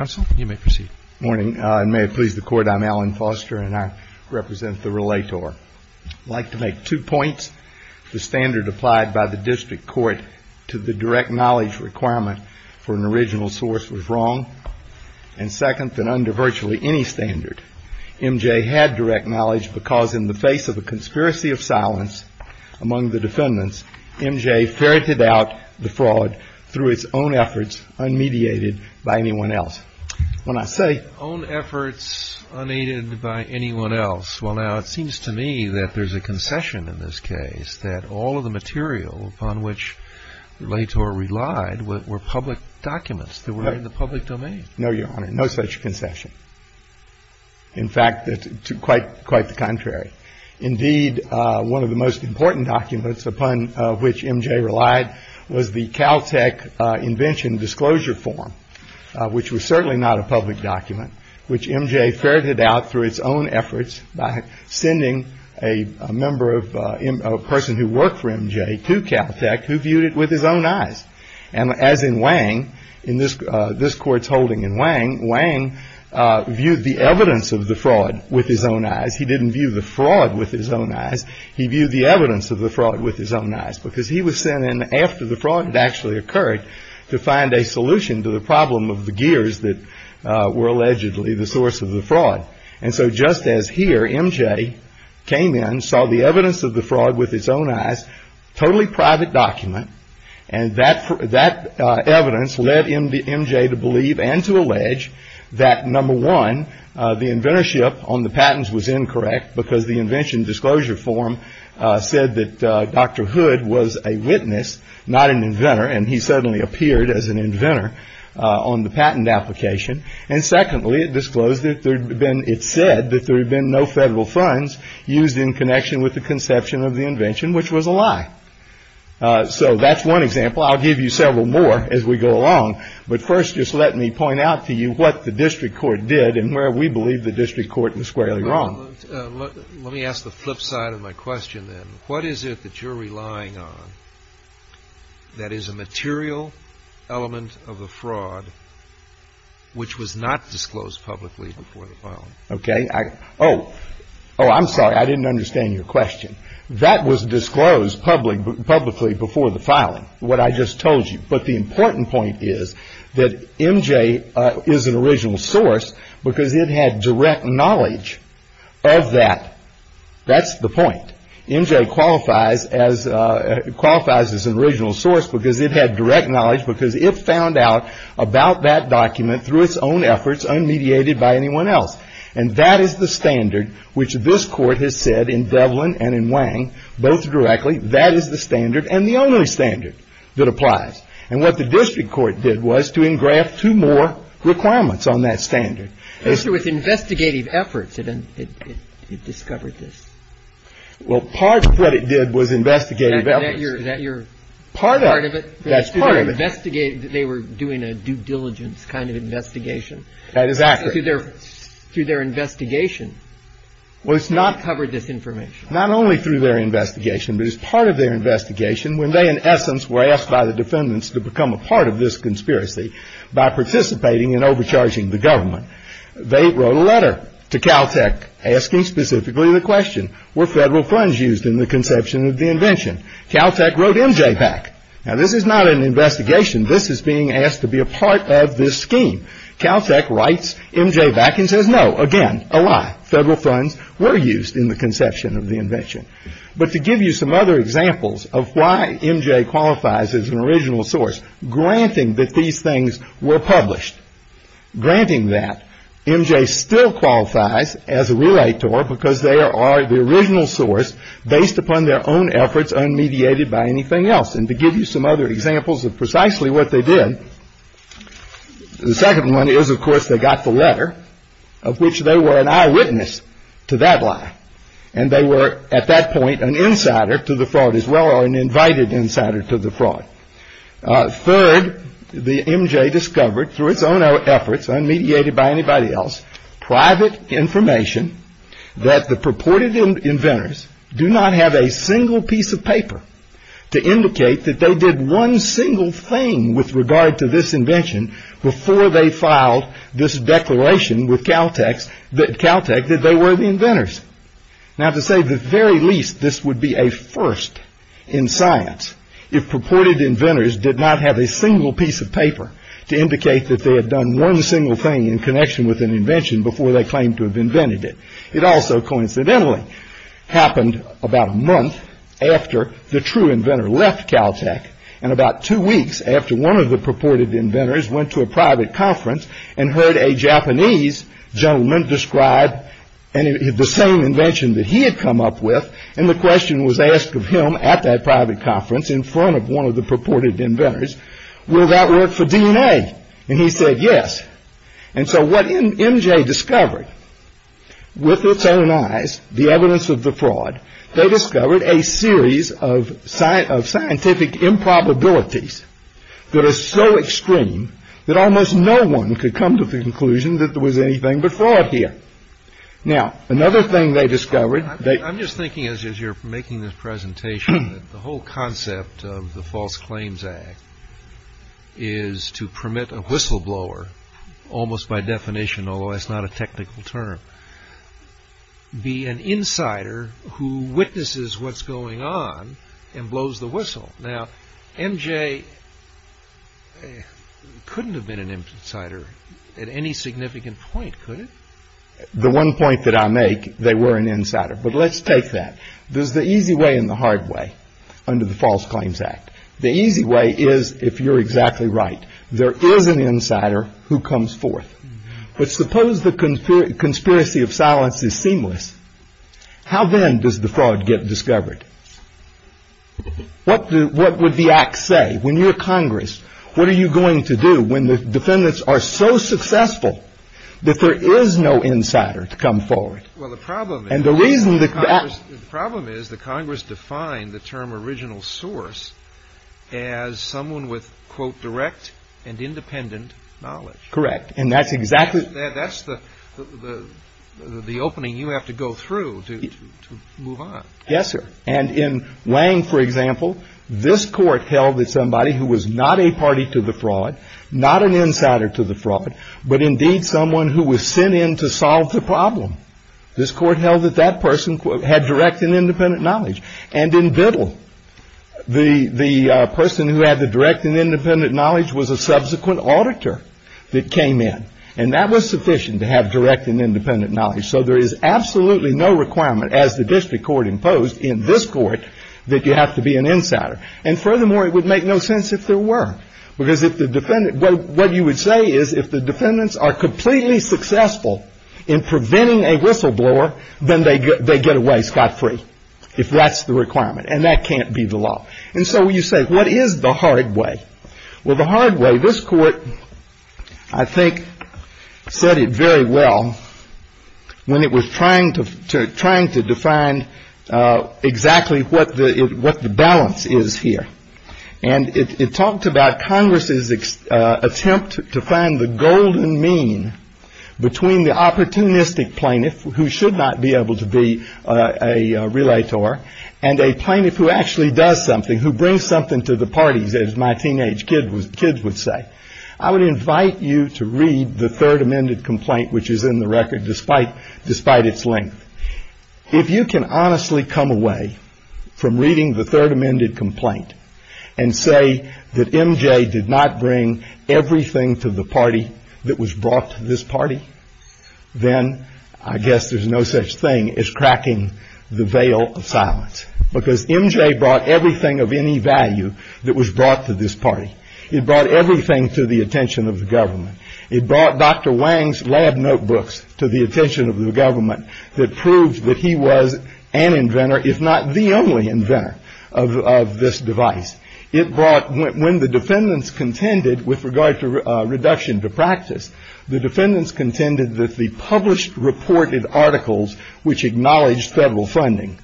I'm Alan Foster and I represent the Relator. I'd like to make two points. The standard applied by the district court to the direct knowledge requirement for an original source was wrong. And second, that under virtually any standard, MJ had direct knowledge because in the face of a conspiracy of silence among the defendants, MJ ferreted out the fraud through its own efforts, unmediated by anyone else. When I say own efforts unaided by anyone else, well, now it seems to me that there's a concession in this case that all of the material upon which Relator relied were public documents that were in the public domain. No, Your Honor, no such concession. In fact, quite the contrary. Indeed, one of the most important documents upon which MJ relied was the Caltech invention disclosure form, which was certainly not a public document, which MJ ferreted out through its own efforts by sending a person who worked for MJ to Caltech who viewed it with his own eyes. And as in Wang, in this court's holding in Wang, Wang viewed the evidence of the fraud with his own eyes. He didn't view the fraud with his own eyes. He viewed the evidence of the fraud with his own eyes because he was sent in after the fraud had actually occurred to find a solution to the problem of the gears that were allegedly the source of the fraud. And so just as here, MJ came in, saw the evidence of the fraud with his own eyes, totally private document, and that evidence led MJ to believe and to allege that, number one, the inventorship on the patents was incorrect because the invention disclosure form said that Dr. Hood was a witness, not an inventor, and he suddenly appeared as an inventor on the patent application. And secondly, it disclosed that there had been, it said that there had been no federal funds used in connection with the conception of the invention, which was a lie. So that's one example. I'll give you several more as we go along. But first, just let me point out to you what the district court did and where we believe the district court was squarely wrong. Let me ask the flip side of my question then. What is it that you're relying on that is a material element of the fraud which was not disclosed publicly before the filing? Oh, I'm sorry, I didn't understand your question. That was disclosed publicly before the filing, what I just told you. But the important point is that MJ is an original source because it had direct knowledge of that. That's the point. MJ qualifies as an original source because it had direct knowledge because it found out about that document through its own efforts, unmediated by anyone else. And that is the standard which this court has said in Devlin and in Wang, both directly, that is the standard and the only standard that applies. And what the district court did was to engraft two more requirements on that standard. So it was investigative efforts that it discovered this. Well, part of what it did was investigative efforts. Is that your part of it? That's part of it. They were doing a due diligence kind of investigation. That is accurate. Through their investigation. Well, it's not. Not covered this information. Not only through their investigation, but as part of their investigation, when they in essence were asked by the defendants to become a part of this conspiracy by participating in overcharging the government. They wrote a letter to Caltech asking specifically the question, were federal funds used in the conception of the invention? Caltech wrote MJ back. Now, this is not an investigation. This is being asked to be a part of this scheme. Caltech writes MJ back and says, no, again, a lie. Federal funds were used in the conception of the invention. But to give you some other examples of why MJ qualifies as an original source, granting that these things were published, granting that MJ still qualifies as a realtor because they are the original source based upon their own efforts unmediated by anything else. And to give you some other examples of precisely what they did. The second one is, of course, they got the letter of which they were an eyewitness to that lie. And they were at that point an insider to the fraud as well, or an invited insider to the fraud. Third, the MJ discovered through its own efforts, unmediated by anybody else, private information that the purported inventors do not have a single piece of paper to indicate that they did one single thing with regard to this invention before they filed this declaration with Caltech that they were the inventors. Now, to say the very least, this would be a first in science if purported inventors did not have a single piece of paper to indicate that they had done one single thing in connection with an invention before they claimed to have invented it. It also coincidentally happened about a month after the true inventor left Caltech and about two weeks after one of the purported inventors went to a private conference and heard a Japanese gentleman describe the same invention that he had come up with. And the question was asked of him at that private conference in front of one of the purported inventors. Will that work for DNA? And he said yes. And so what MJ discovered with its own eyes, the evidence of the fraud, they discovered a series of scientific improbabilities that are so extreme that almost no one could come to the conclusion that there was anything but fraud here. Now, another thing they discovered. I'm just thinking as you're making this presentation, the whole concept of the False Claims Act is to permit a whistleblower almost by definition, although it's not a technical term, be an insider who witnesses what's going on and blows the whistle. Now, MJ couldn't have been an insider at any significant point, could it? The one point that I make, they were an insider. But let's take that. There's the easy way and the hard way under the False Claims Act. The easy way is if you're exactly right. There is an insider who comes forth. But suppose the conspiracy of silence is seamless. How then does the fraud get discovered? What would the act say? When you're Congress, what are you going to do when the defendants are so successful that there is no insider to come forward? Well, the problem is the Congress defined the term original source as someone with, quote, direct and independent knowledge. Correct. And that's exactly. That's the opening you have to go through to move on. Yes, sir. And in Lange, for example, this court held that somebody who was not a party to the fraud, not an insider to the fraud, but indeed someone who was sent in to solve the problem. This court held that that person had direct and independent knowledge. And in Biddle, the person who had the direct and independent knowledge was a subsequent auditor that came in. And that was sufficient to have direct and independent knowledge. So there is absolutely no requirement as the district court imposed in this court that you have to be an insider. And furthermore, it would make no sense if there were. Because if the defendant what you would say is if the defendants are completely successful in preventing a whistleblower, then they get they get away scot free if that's the requirement. And that can't be the law. And so you say, what is the hard way? Well, the hard way, this court, I think, said it very well when it was trying to trying to define exactly what the what the balance is here. And it talked about Congress's attempt to find the golden mean between the opportunistic plaintiff who should not be able to be a relator and a plaintiff who actually does something, who brings something to the parties. As my teenage kid was kids would say, I would invite you to read the third amended complaint, which is in the record, despite despite its length. If you can honestly come away from reading the third amended complaint and say that MJ did not bring everything to the party that was brought to this party, then I guess there's no such thing as cracking the veil of silence because MJ brought everything of any value that was brought to this party. It brought everything to the attention of the government. It brought Dr. Wang's lab notebooks to the attention of the government that proved that he was an inventor, if not the only inventor of this device. It brought when the defendants contended with regard to reduction to practice, the defendants contended that the published reported articles, which acknowledged federal funding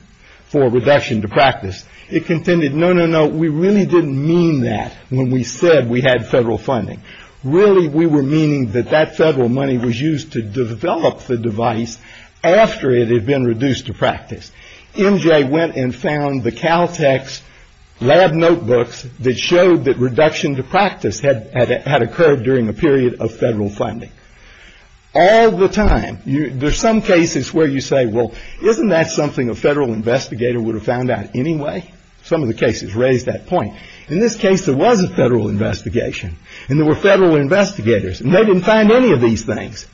for reduction to practice, it contended, no, no, no. We really didn't mean that when we said we had federal funding. Really, we were meaning that that federal money was used to develop the device after it had been reduced to practice. MJ went and found the Caltech's lab notebooks that showed that reduction to practice had had occurred during a period of federal funding all the time. There's some cases where you say, well, isn't that something a federal investigator would have found out anyway? Some of the cases raised that point. In this case, there was a federal investigation and there were federal investigators and they didn't find any of these things.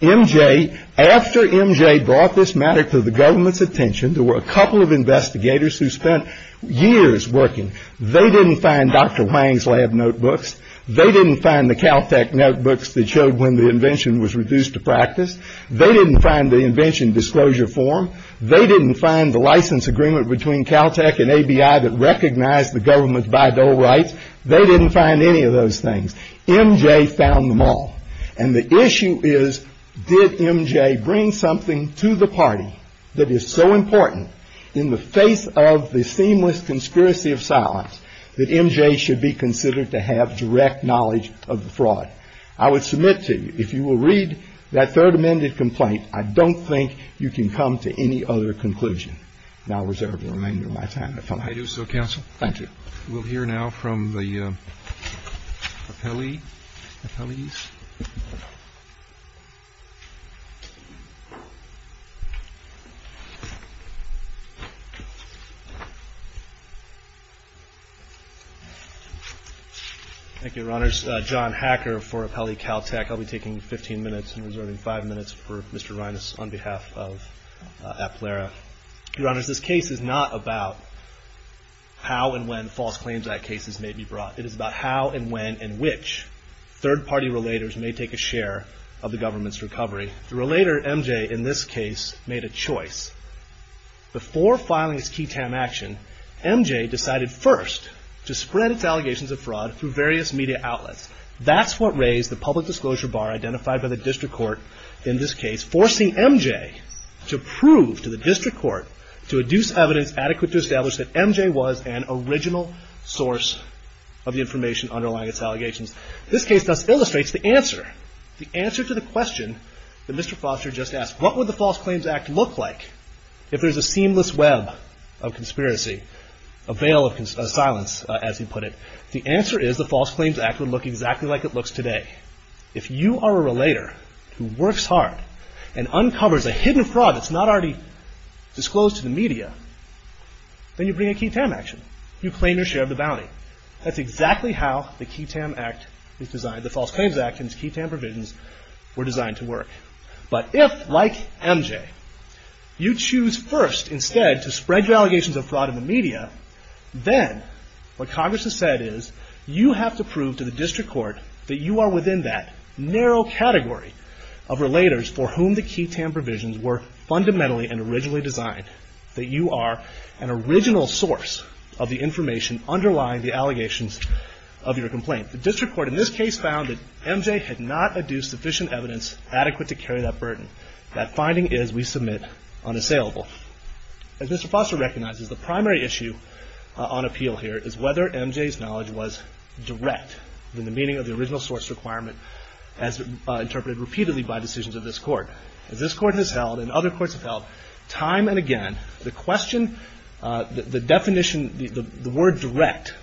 MJ, after MJ brought this matter to the government's attention, there were a couple of investigators who spent years working. They didn't find Dr. Wang's lab notebooks. They didn't find the Caltech notebooks that showed when the invention was reduced to practice. They didn't find the invention disclosure form. They didn't find the license agreement between Caltech and ABI that recognized the government's bi-dole rights. They didn't find any of those things. MJ found them all. And the issue is, did MJ bring something to the party that is so important in the face of the seamless conspiracy of silence that MJ should be considered to have direct knowledge of the fraud? I would submit to you, if you will read that third amended complaint, I don't think you can come to any other conclusion. And I'll reserve the remainder of my time if I may. I do so, counsel. Thank you. We'll hear now from the Appellees. Thank you, Your Honors. John Hacker for Appellee Caltech. I'll be taking 15 minutes and reserving five minutes for Mr. Reines on behalf of Appallera. Your Honors, this case is not about how and when false claims act cases may be brought. It is about how and when and which third party relators may take a share of the government's recovery. The relator, MJ, in this case, made a choice. Before filing his key TAM action, MJ decided first to spread its allegations of fraud through various media outlets. That's what raised the public disclosure bar identified by the district court in this case, forcing MJ to prove to the district court to adduce evidence adequate to establish that MJ was an original source of the information underlying its allegations. This case thus illustrates the answer, the answer to the question that Mr. Foster just asked. What would the False Claims Act look like if there's a seamless web of conspiracy, a veil of silence, as he put it? The answer is the False Claims Act would look exactly like it looks today. If you are a relator who works hard and uncovers a hidden fraud that's not already disclosed to the media, then you bring a key TAM action. You claim your share of the bounty. That's exactly how the key TAM act is designed, the False Claims Act and its key TAM provisions were designed to work. But if, like MJ, you choose first instead to spread your allegations of fraud in the media, then what Congress has said is you have to prove to the district court that you are within that narrow category of relators for whom the key TAM provisions were fundamentally and originally designed, that you are an original source of the information underlying the allegations of your complaint. The district court in this case found that MJ had not adduced sufficient evidence adequate to carry that burden. That finding is we submit unassailable. As Mr. Foster recognizes, the primary issue on appeal here is whether MJ's knowledge was direct in the meaning of the original source requirement as interpreted repeatedly by decisions of this court. As this court has held and other courts have held, time and again, the question, the definition, the word direct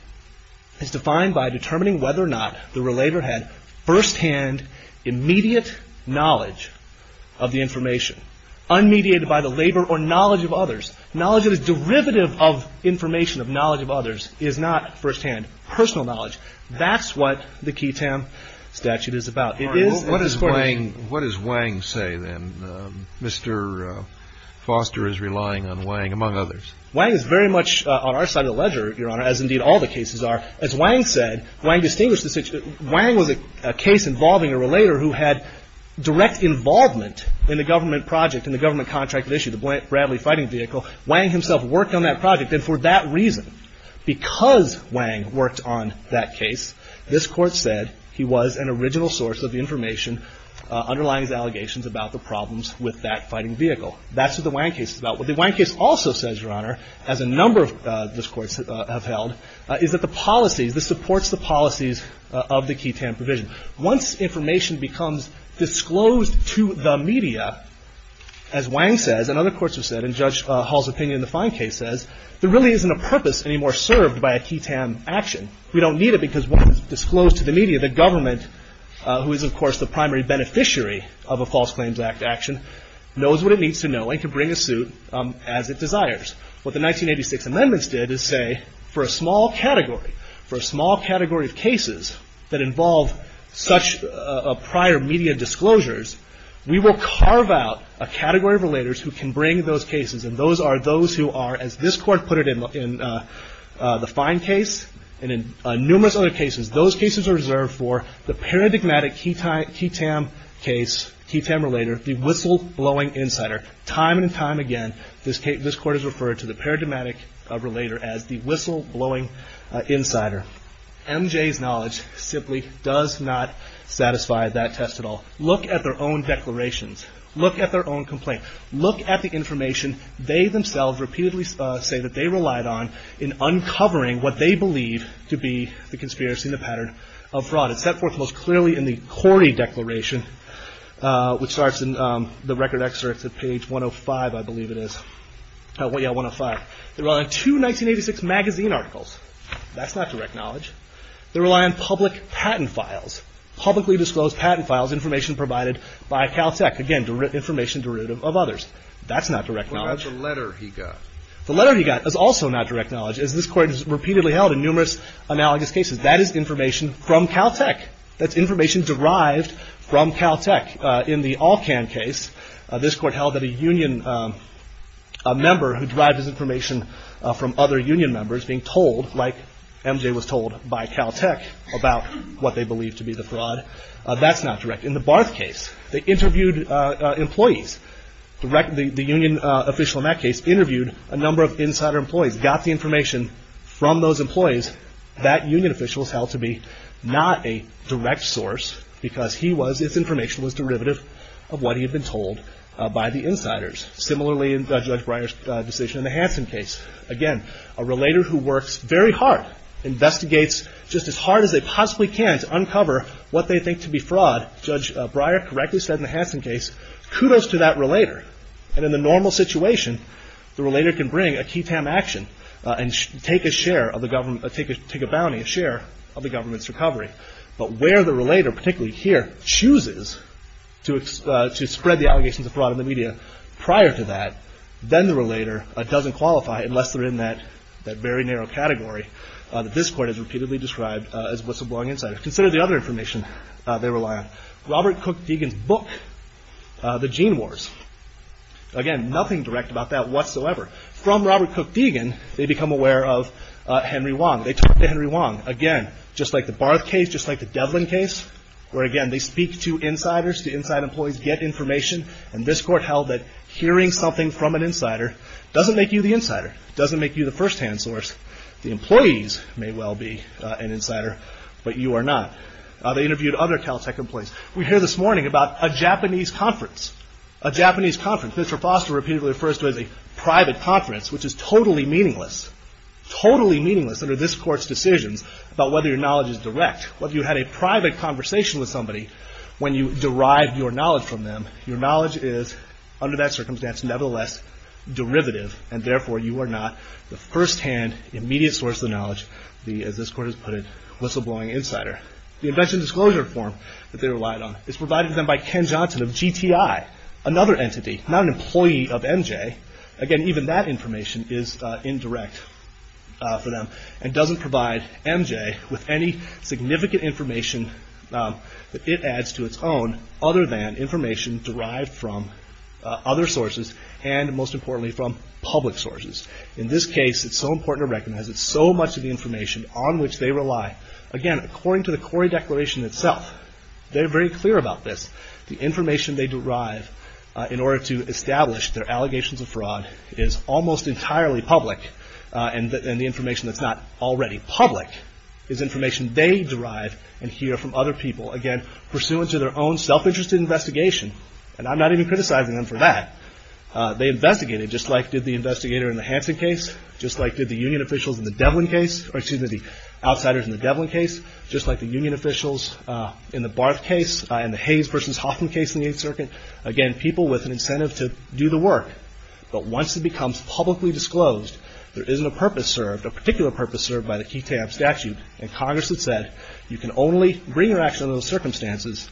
is defined by determining whether or not the relator had firsthand immediate knowledge of the information, unmediated by the labor or knowledge of others. Knowledge that is derivative of information of knowledge of others is not firsthand personal knowledge. That's what the key TAM statute is about. It is. What does Wang say then? Mr. Foster is relying on Wang, among others. Wang is very much on our side of the ledger, Your Honor, as indeed all the cases are. As Wang said, Wang was a case involving a relator who had direct involvement in the government project, in the government contracted issue, the Bradley fighting vehicle. Wang himself worked on that project. And for that reason, because Wang worked on that case, this court said he was an original source of the information underlying his allegations about the problems with that fighting vehicle. That's what the Wang case is about. What the Wang case also says, Your Honor, as a number of these courts have held, is that the policies, this supports the policies of the key TAM provision. Once information becomes disclosed to the media, as Wang says and other courts have said, and Judge Hall's opinion in the fine case says, there really isn't a purpose anymore served by a key TAM action. We don't need it because once it's disclosed to the media, the government, who is, of course, the primary beneficiary of a False Claims Act action, knows what it needs to know and can bring a suit as it desires. What the 1986 amendments did is say, for a small category, for a small category of cases that involve such prior media disclosures, we will carve out a category of relators who can bring those cases. And those are those who are, as this court put it in the fine case and in numerous other cases, those cases are reserved for the paradigmatic key TAM case, key TAM relator, the whistleblowing insider. Time and time again, this court has referred to the paradigmatic relator as the whistleblowing insider. MJ's knowledge simply does not satisfy that test at all. Look at their own declarations. Look at their own complaint. Look at the information they themselves repeatedly say that they relied on in uncovering what they believe to be the conspiracy and the pattern of fraud. It's set forth most clearly in the Corny Declaration, which starts in the record excerpts at page 105, I believe it is. Oh, yeah, 105. They rely on two 1986 magazine articles. That's not direct knowledge. They rely on public patent files, publicly disclosed patent files, information provided by Caltech. Again, information derived of others. That's not direct knowledge. What about the letter he got? The letter he got is also not direct knowledge, as this court has repeatedly held in numerous analogous cases. That is information from Caltech. That's information derived from Caltech. In the Alcan case, this court held that a union member who derived this information from other union members being told, like MJ was told by Caltech, about what they believed to be the fraud. That's not direct. In the Barth case, they interviewed employees. The union official in that case interviewed a number of insider employees, got the information from those employees. That union official was held to be not a direct source because his information was derivative of what he had been told by the insiders. Similarly, in Judge Breyer's decision in the Hansen case. Again, a relator who works very hard, investigates just as hard as they possibly can to uncover what they think to be fraud. Judge Breyer correctly said in the Hansen case, kudos to that relator. And in the normal situation, the relator can bring a key TAM action and take a share of the government, take a bounty, a share of the government's recovery. But where the relator, particularly here, chooses to spread the allegations of fraud in the media prior to that, then the relator doesn't qualify unless they're in that very narrow category that this court has repeatedly described as whistleblowing insiders. Consider the other information they rely on. Robert Cook Deegan's book, The Gene Wars. Again, nothing direct about that whatsoever. From Robert Cook Deegan, they become aware of Henry Wong. They talk to Henry Wong. Again, just like the Barth case, just like the Devlin case, where again, they speak to insiders, to inside employees, get information. And this court held that hearing something from an insider doesn't make you the insider, doesn't make you the firsthand source. The employees may well be an insider, but you are not. They interviewed other Caltech employees. We hear this morning about a Japanese conference, a Japanese conference. Mitchell Foster repeatedly refers to it as a private conference, which is totally meaningless, totally meaningless under this court's decisions about whether your knowledge is direct. Whether you had a private conversation with somebody when you derived your knowledge from them, your knowledge is, under that circumstance, nevertheless derivative, and therefore you are not the firsthand, immediate source of knowledge, the, as this court has put it, whistleblowing insider. The invention disclosure form that they relied on is provided to them by Ken Johnson of GTI, another entity, not an employee of MJ. Again, even that information is indirect for them and doesn't provide MJ with any significant information that it adds to its own, other than information derived from other sources and, most importantly, from public sources. In this case, it's so important to recognize it's so much of the information on which they rely. Again, according to the Corey Declaration itself, they're very clear about this. The information they derive in order to establish their allegations of fraud is almost entirely public, and the information that's not already public is information they derive and hear from other people. Again, pursuant to their own self-interested investigation, and I'm not even criticizing them for that, they investigated, just like did the investigator in the Hansen case, just like did the union officials in the Devlin case, or excuse me, the outsiders in the Devlin case, just like the union officials in the Barth case, and the Hayes versus Hoffman case in the Eighth Circuit. Again, people with an incentive to do the work, but once it becomes publicly disclosed, there isn't a purpose served, a particular purpose served, by the key tab statute, and Congress has said you can only bring your action under those circumstances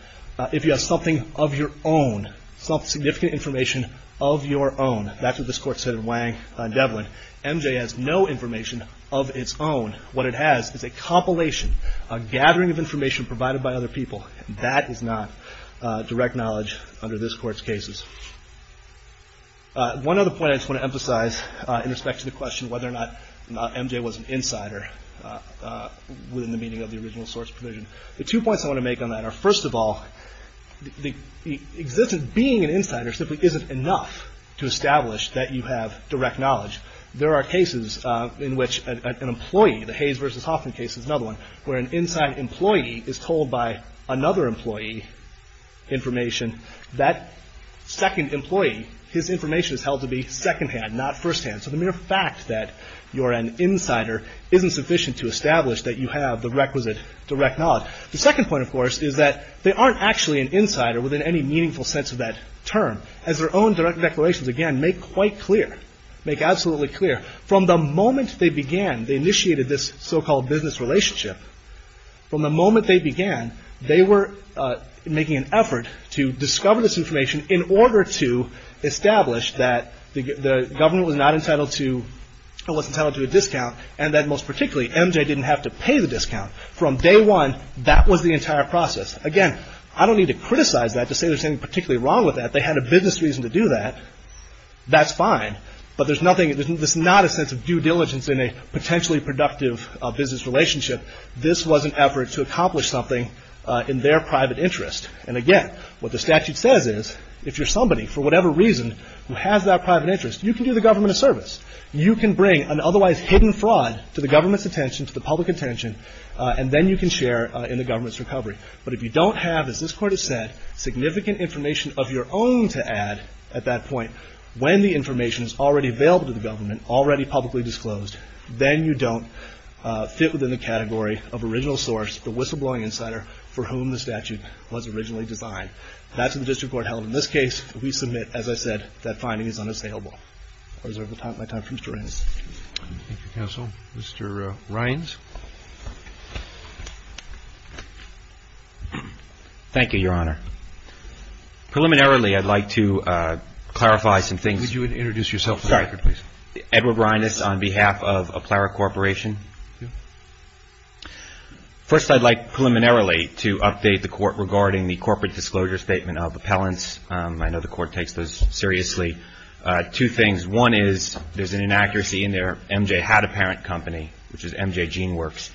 if you have something of your own, some significant information of your own. That's what this Court said in Wang and Devlin. MJ has no information of its own. What it has is a compilation, a gathering of information provided by other people. That is not direct knowledge under this Court's cases. One other point I just want to emphasize in respect to the question whether or not MJ was an insider, within the meaning of the original source provision. The two points I want to make on that are, first of all, the existence of being an insider simply isn't enough to establish that you have direct knowledge. There are cases in which an employee, the Hayes versus Hoffman case is another one, where an inside employee is told by another employee information. That second employee, his information is held to be secondhand, not firsthand. So the mere fact that you're an insider isn't sufficient to establish that you have the requisite direct knowledge. The second point, of course, is that they aren't actually an insider within any meaningful sense of that term. As their own direct declarations, again, make quite clear, make absolutely clear, from the moment they began, they initiated this so-called business relationship, from the moment they began, they were making an effort to discover this information in order to establish that the government was not entitled to, or was entitled to a discount, and that most particularly, MJ didn't have to pay the discount. From day one, that was the entire process. Again, I don't need to criticize that to say there's anything particularly wrong with that. They had a business reason to do that. That's fine, but there's nothing, there's not a sense of due diligence in a potentially productive business relationship. This was an effort to accomplish something in their private interest. And again, what the statute says is, if you're somebody, for whatever reason, who has that private interest, you can do the government a service. You can bring an otherwise hidden fraud to the government's attention, to the public attention, and then you can share in the government's recovery. But if you don't have, as this Court has said, significant information of your own to add at that point, when the information is already available to the government, already publicly disclosed, then you don't fit within the category of original source, the whistleblowing insider, for whom the statute was originally designed. That's what the District Court held. In this case, we submit, as I said, that finding is unassailable. I'll reserve my time for Mr. Reynes. Thank you, Counsel. Mr. Reynes? Thank you, Your Honor. Preliminarily, I'd like to clarify some things. Could you introduce yourself? Sorry. Edward Reynes on behalf of Aplara Corporation. First, I'd like preliminarily to update the Court regarding the corporate disclosure statement of appellants. I know the Court takes those seriously. Two things. One is, there's an inaccuracy in there. MJ had a parent company, which is MJ GeneWorks.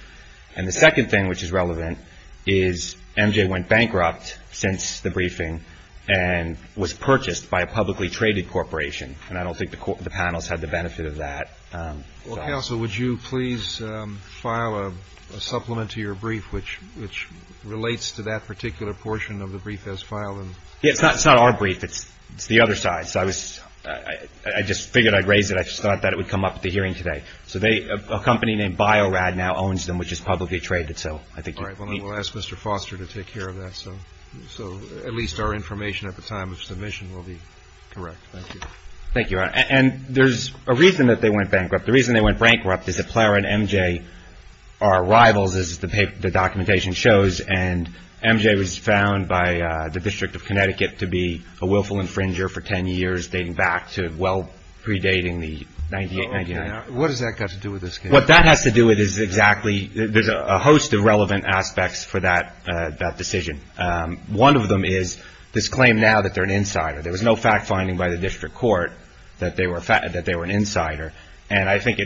And the second thing, which is relevant, is MJ went bankrupt since the briefing and was purchased by a publicly traded corporation. And I don't think the panels had the benefit of that. Well, Counsel, would you please file a supplement to your brief, which relates to that particular portion of the brief as filed? It's not our brief. It's the other side. I just figured I'd raise it. I just thought that it would come up at the hearing today. A company named BioRad now owns them, which is publicly traded. All right. We'll ask Mr. Foster to take care of that. So at least our information at the time of submission will be correct. Thank you. Thank you, Your Honor. And there's a reason that they went bankrupt. The reason they went bankrupt is that Aplara and MJ are rivals, as the documentation shows. And MJ was found by the District of Connecticut to be a willful infringer for 10 years, dating back to well predating the 1998. What has that got to do with this case? What that has to do with it is exactly there's a host of relevant aspects for that decision. One of them is this claim now that they're an insider. There was no fact finding by the district court that they were an insider. And I think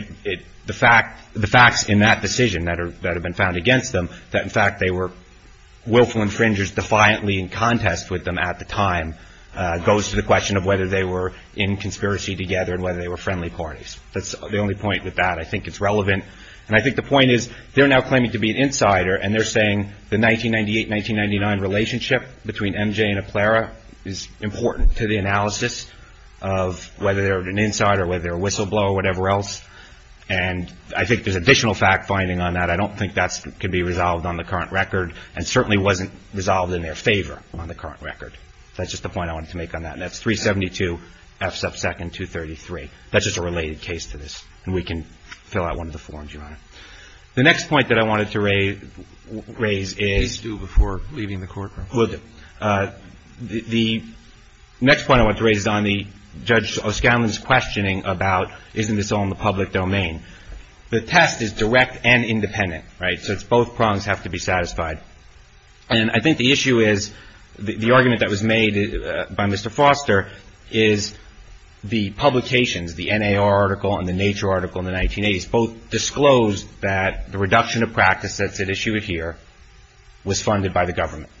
the facts in that decision that have been found against them, that in fact they were willful infringers defiantly in contest with them at the time, goes to the question of whether they were in conspiracy together and whether they were friendly parties. That's the only point with that. I think it's relevant. And I think the point is they're now claiming to be an insider and they're saying the 1998-1999 relationship between MJ and Aplara is important to the analysis of whether they're an insider, whether they're a whistleblower or whatever else. And I think there's additional fact finding on that. I don't think that can be resolved on the current record and certainly wasn't resolved in their favor on the current record. That's just the point I wanted to make on that. And that's 372 F sub second 233. That's just a related case to this. And we can fill out one of the forms, Your Honor. The next point that I wanted to raise is. Please do before leaving the courtroom. The next point I want to raise is on Judge O'Scanlan's questioning about isn't this all in the public domain. The test is direct and independent, right? So it's both prongs have to be satisfied. And I think the issue is the argument that was made by Mr. Foster is the publications, the NAR article and the Nature article in the 1980s both disclosed that the reduction of practice that's at issue here was funded by the government.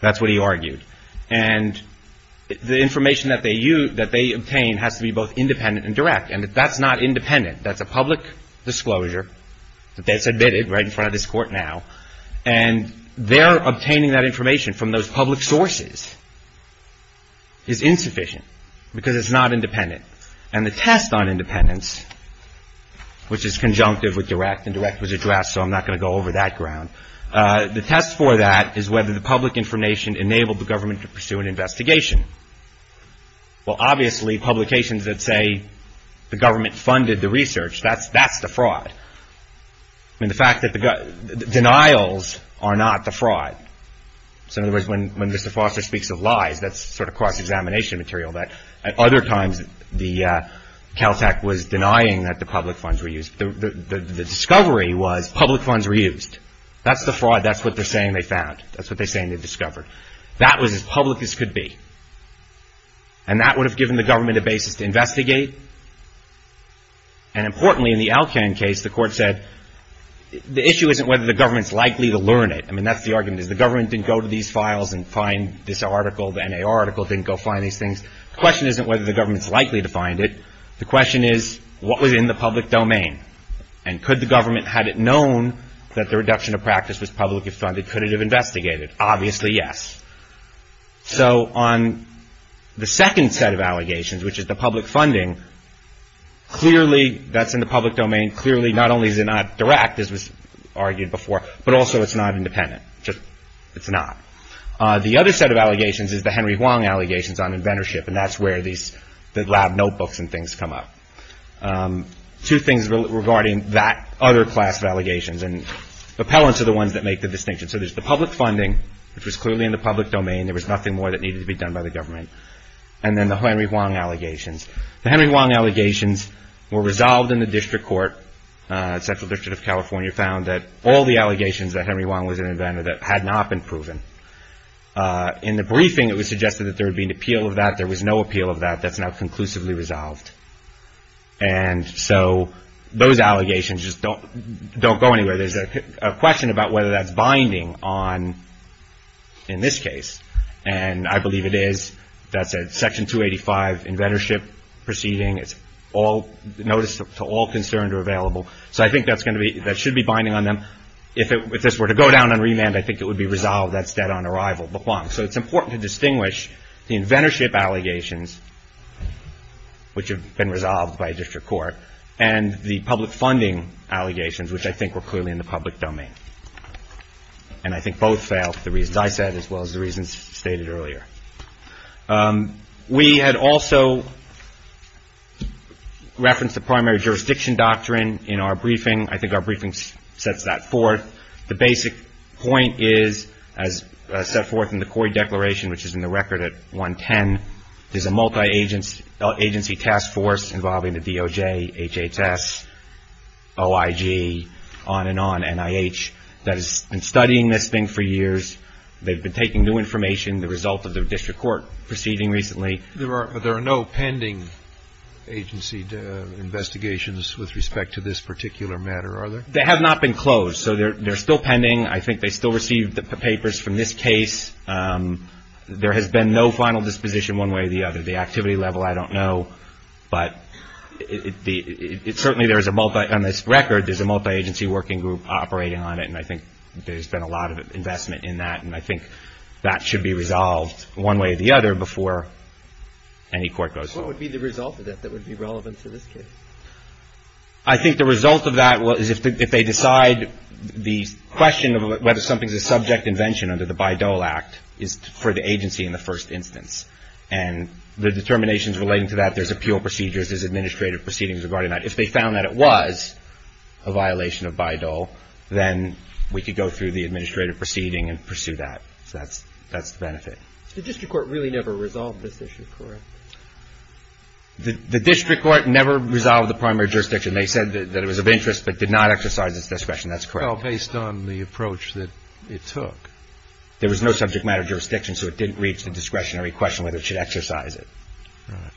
That's what he argued. And the information that they use that they obtain has to be both independent and direct. And that's not independent. That's a public disclosure that's admitted right in front of this court now. And they're obtaining that information from those public sources is insufficient because it's not independent. And the test on independence, which is conjunctive with direct and direct was addressed. So I'm not going to go over that ground. The test for that is whether the public information enabled the government to pursue an investigation. Well, obviously, publications that say the government funded the research, that's the fraud. I mean, the fact that the denials are not the fraud. So in other words, when Mr. Foster speaks of lies, that's sort of cross-examination material that at other times the Caltech was denying that the public funds were used. The discovery was public funds were used. That's the fraud. That's what they're saying they found. That's what they're saying they discovered. That was as public as could be. And that would have given the government a basis to investigate. And importantly, in the Alcan case, the court said the issue isn't whether the government's likely to learn it. I mean, that's the argument, is the government didn't go to these files and find this article. The NAR article didn't go find these things. The question isn't whether the government's likely to find it. The question is what was in the public domain. And could the government, had it known that the reduction of practice was publicly funded, could it have investigated? Obviously, yes. So on the second set of allegations, which is the public funding, clearly that's in the public domain. Clearly, not only is it not direct, as was argued before, but also it's not independent. It's not. The other set of allegations is the Henry Huang allegations on inventorship, and that's where the lab notebooks and things come up. Two things regarding that other class of allegations, and appellants are the ones that make the distinction. So there's the public funding, which was clearly in the public domain. There was nothing more that needed to be done by the government. And then the Henry Huang allegations. The Henry Huang allegations were resolved in the district court. Central District of California found that all the allegations that Henry Huang was an inventor that had not been proven. In the briefing, it was suggested that there would be an appeal of that. There was no appeal of that. That's now conclusively resolved. And so those allegations just don't go anywhere. There's a question about whether that's binding on, in this case, and I believe it is. That's a Section 285 inventorship proceeding. It's notice to all concerned or available. So I think that should be binding on them. If this were to go down on remand, I think it would be resolved. That's dead on arrival, the Huang. So it's important to distinguish the inventorship allegations, which have been resolved by a district court, and the public funding allegations, which I think were clearly in the public domain. And I think both fail for the reasons I said as well as the reasons stated earlier. We had also referenced the primary jurisdiction doctrine in our briefing. I think our briefing sets that forth. The basic point is, as set forth in the COI declaration, which is in the record at 110, there's a multi-agency task force involving the DOJ, HHS, OIG, on and on, NIH, that has been studying this thing for years. They've been taking new information, the result of the district court proceeding recently. There are no pending agency investigations with respect to this particular matter, are there? They have not been closed. So they're still pending. I think they still received the papers from this case. There has been no final disposition one way or the other. The activity level, I don't know. But certainly there is a multi-agency working group operating on it, and I think there's been a lot of investment in that. And I think that should be resolved one way or the other before any court goes through. What would be the result of that that would be relevant to this case? I think the result of that is if they decide the question of whether something is a subject invention under the Bayh-Dole Act is for the agency in the first instance. And the determinations relating to that, there's appeal procedures, there's administrative proceedings regarding that. If they found that it was a violation of Bayh-Dole, then we could go through the administrative proceeding and pursue that. So that's the benefit. The district court really never resolved this issue, correct? The district court never resolved the primary jurisdiction. They said that it was of interest but did not exercise its discretion. That's correct. Well, based on the approach that it took. There was no subject matter jurisdiction, so it didn't reach the discretionary question whether it should exercise it. Right.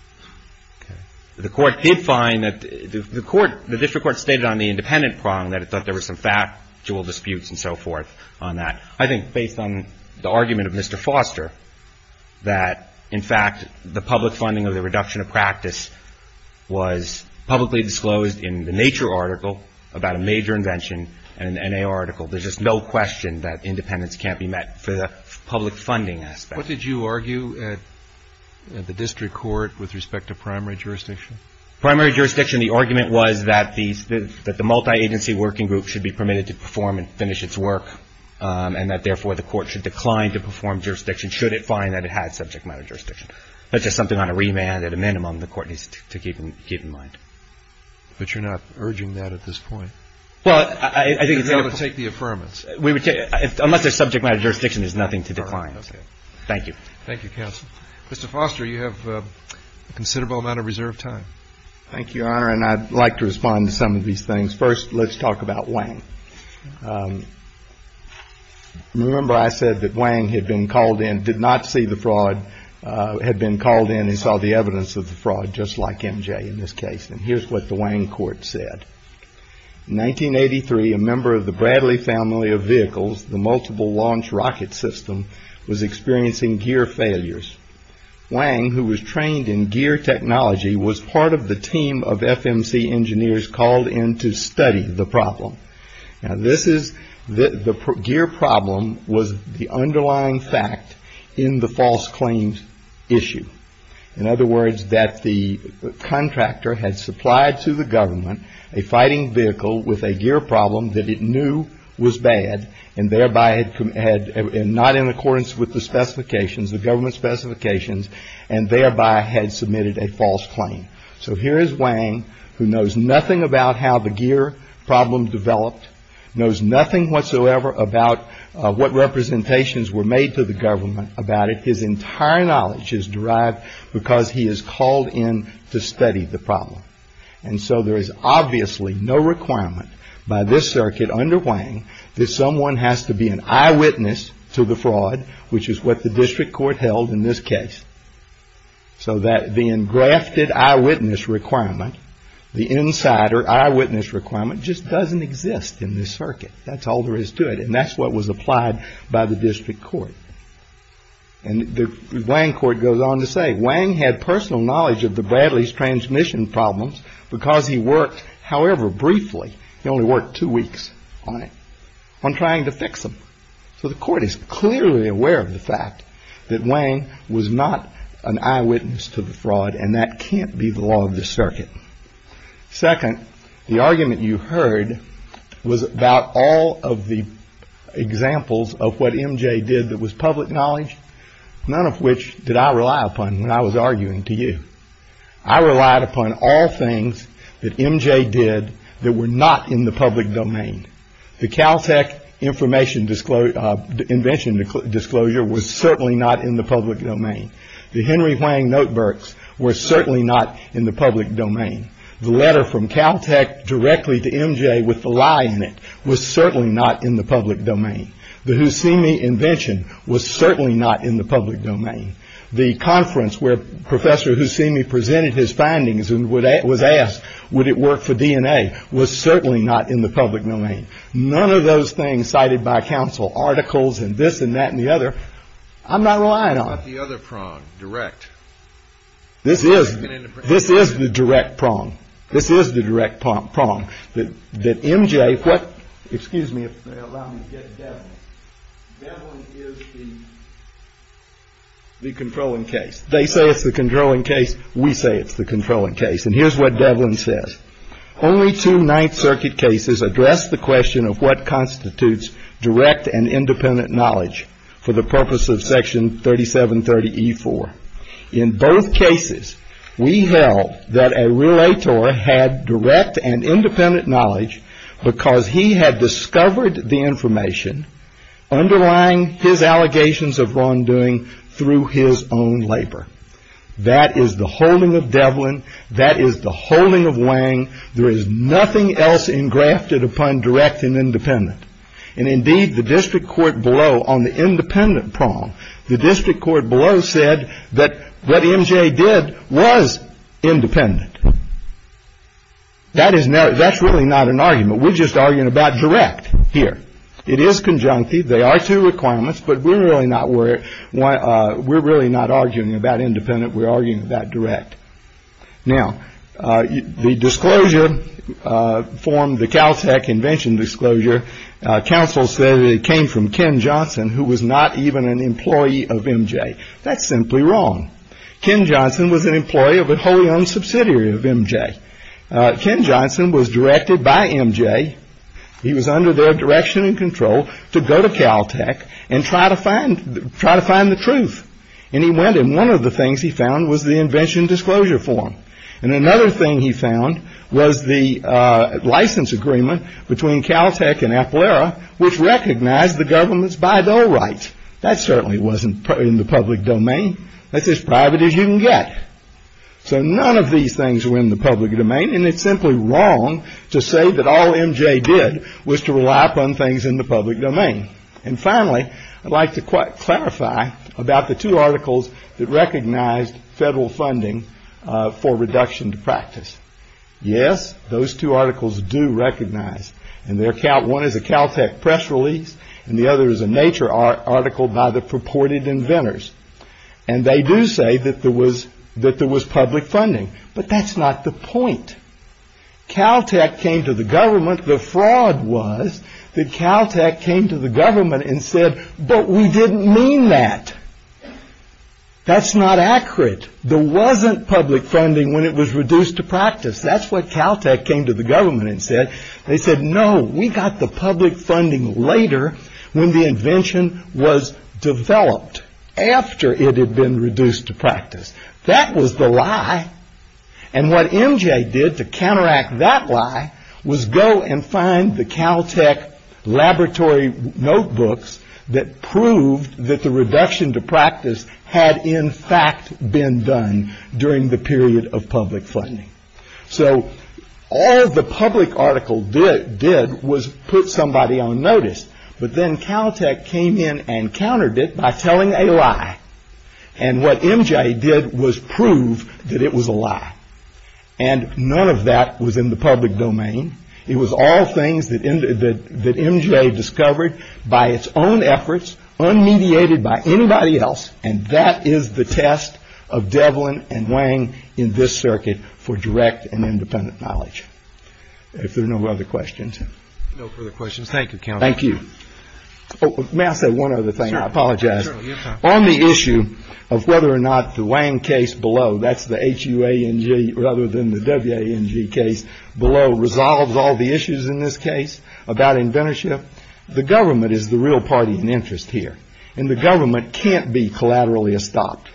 Okay. The court did find that the district court stated on the independent prong that it thought there were some factual disputes and so forth on that. I think based on the argument of Mr. Foster that, in fact, the public funding of the reduction of practice was publicly disclosed in the Nature article about a major invention and an N.A. article. There's just no question that independence can't be met for the public funding aspect. What did you argue at the district court with respect to primary jurisdiction? Primary jurisdiction, the argument was that the multi-agency working group should be permitted to perform and finish its work and that, therefore, the court should decline to perform jurisdiction should it find that it had subject matter jurisdiction. That's just something on a remand. At a minimum, the court needs to keep in mind. But you're not urging that at this point? Well, I think it's important to take the affirmance. Unless there's subject matter jurisdiction, there's nothing to decline. Thank you. Thank you, counsel. Mr. Foster, you have a considerable amount of reserve time. Thank you, Your Honor. And I'd like to respond to some of these things. First, let's talk about Wang. Remember I said that Wang had been called in, did not see the fraud, had been called in and saw the evidence of the fraud, just like MJ in this case. And here's what the Wang court said. In 1983, a member of the Bradley family of vehicles, the multiple launch rocket system, was experiencing gear failures. Wang, who was trained in gear technology, was part of the team of FMC engineers called in to study the problem. Now, this is the gear problem was the underlying fact in the false claims issue. In other words, that the contractor had supplied to the government a fighting vehicle with a gear problem that it knew was bad, and thereby had not in accordance with the specifications, the government specifications, and thereby had submitted a false claim. So here is Wang, who knows nothing about how the gear problem developed, knows nothing whatsoever about what representations were made to the government about it. His entire knowledge is derived because he is called in to study the problem. And so there is obviously no requirement by this circuit under Wang that someone has to be an eyewitness to the fraud, which is what the district court held in this case. So that the engrafted eyewitness requirement, the insider eyewitness requirement, just doesn't exist in this circuit. That's all there is to it. And that's what was applied by the district court. And the Wang court goes on to say Wang had personal knowledge of the Bradley's transmission problems because he worked however briefly, he only worked two weeks on it, on trying to fix them. So the court is clearly aware of the fact that Wang was not an eyewitness to the fraud, and that can't be the law of the circuit. Second, the argument you heard was about all of the examples of what MJ did. That was public knowledge, none of which did I rely upon when I was arguing to you. I relied upon all things that MJ did that were not in the public domain. The Caltech information disclosure invention disclosure was certainly not in the public domain. The Henry Wang notebooks were certainly not in the public domain. The letter from Caltech directly to MJ with the lie in it was certainly not in the public domain. The Husseini invention was certainly not in the public domain. The conference where Professor Husseini presented his findings and was asked would it work for DNA was certainly not in the public domain. None of those things cited by counsel, articles and this and that and the other, I'm not relying on. What about the other prong, direct? This is the direct prong. This is the direct prong. That MJ, what, excuse me if they allow me to get Devlin. Devlin is the controlling case. They say it's the controlling case. We say it's the controlling case. And here's what Devlin says. Only two Ninth Circuit cases address the question of what constitutes direct and independent knowledge for the purpose of Section 3730E4. In both cases we held that a relator had direct and independent knowledge because he had discovered the information underlying his allegations of wrongdoing through his own labor. That is the holding of Devlin. That is the holding of Wang. There is nothing else engrafted upon direct and independent. And indeed the district court below on the independent prong, the district court below said that what MJ did was independent. That is not, that's really not an argument. We're just arguing about direct here. It is conjunctive. They are two requirements. But we're really not arguing about independent. We're arguing about direct. Now the disclosure formed the Caltech invention disclosure. Counsel said it came from Ken Johnson, who was not even an employee of MJ. That's simply wrong. Ken Johnson was an employee of a wholly owned subsidiary of MJ. Ken Johnson was directed by MJ. He was under their direction and control to go to Caltech and try to find, try to find the truth. And he went and one of the things he found was the invention disclosure form. And another thing he found was the license agreement between Caltech and Appleera, which recognized the government's Baidu rights. That certainly wasn't in the public domain. That's as private as you can get. So none of these things were in the public domain. And it's simply wrong to say that all MJ did was to rely upon things in the public domain. And finally, I'd like to clarify about the two articles that recognized federal funding for reduction to practice. Yes, those two articles do recognize and their count. One is a Caltech press release and the other is a nature article by the purported inventors. And they do say that there was that there was public funding. But that's not the point. Caltech came to the government. The fraud was that Caltech came to the government and said, but we didn't mean that. That's not accurate. There wasn't public funding when it was reduced to practice. That's what Caltech came to the government and said. They said, no, we got the public funding later when the invention was developed after it had been reduced to practice. That was the lie. And what MJ did to counteract that lie was go and find the Caltech laboratory notebooks that proved that the reduction to practice had in fact been done during the period of public funding. So all the public article did did was put somebody on notice. But then Caltech came in and countered it by telling a lie. And what MJ did was prove that it was a lie. And none of that was in the public domain. It was all things that MJ discovered by its own efforts, unmediated by anybody else. And that is the test of Devlin and Wang in this circuit for direct and independent knowledge. If there are no other questions. No further questions. Thank you. Thank you. May I say one other thing? I apologize. On the issue of whether or not the Wang case below, that's the HUANG rather than the WANG case below, resolves all the issues in this case about inventorship. The government is the real party in interest here. And the government can't be collaterally stopped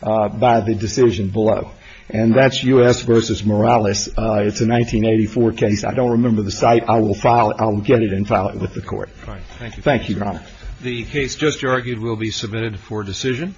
by the decision below. And that's U.S. versus Morales. It's a 1984 case. I don't remember the site. I will file it. I'll get it and file it with the court. Thank you. Thank you. Your Honor. The case just argued will be submitted for decision.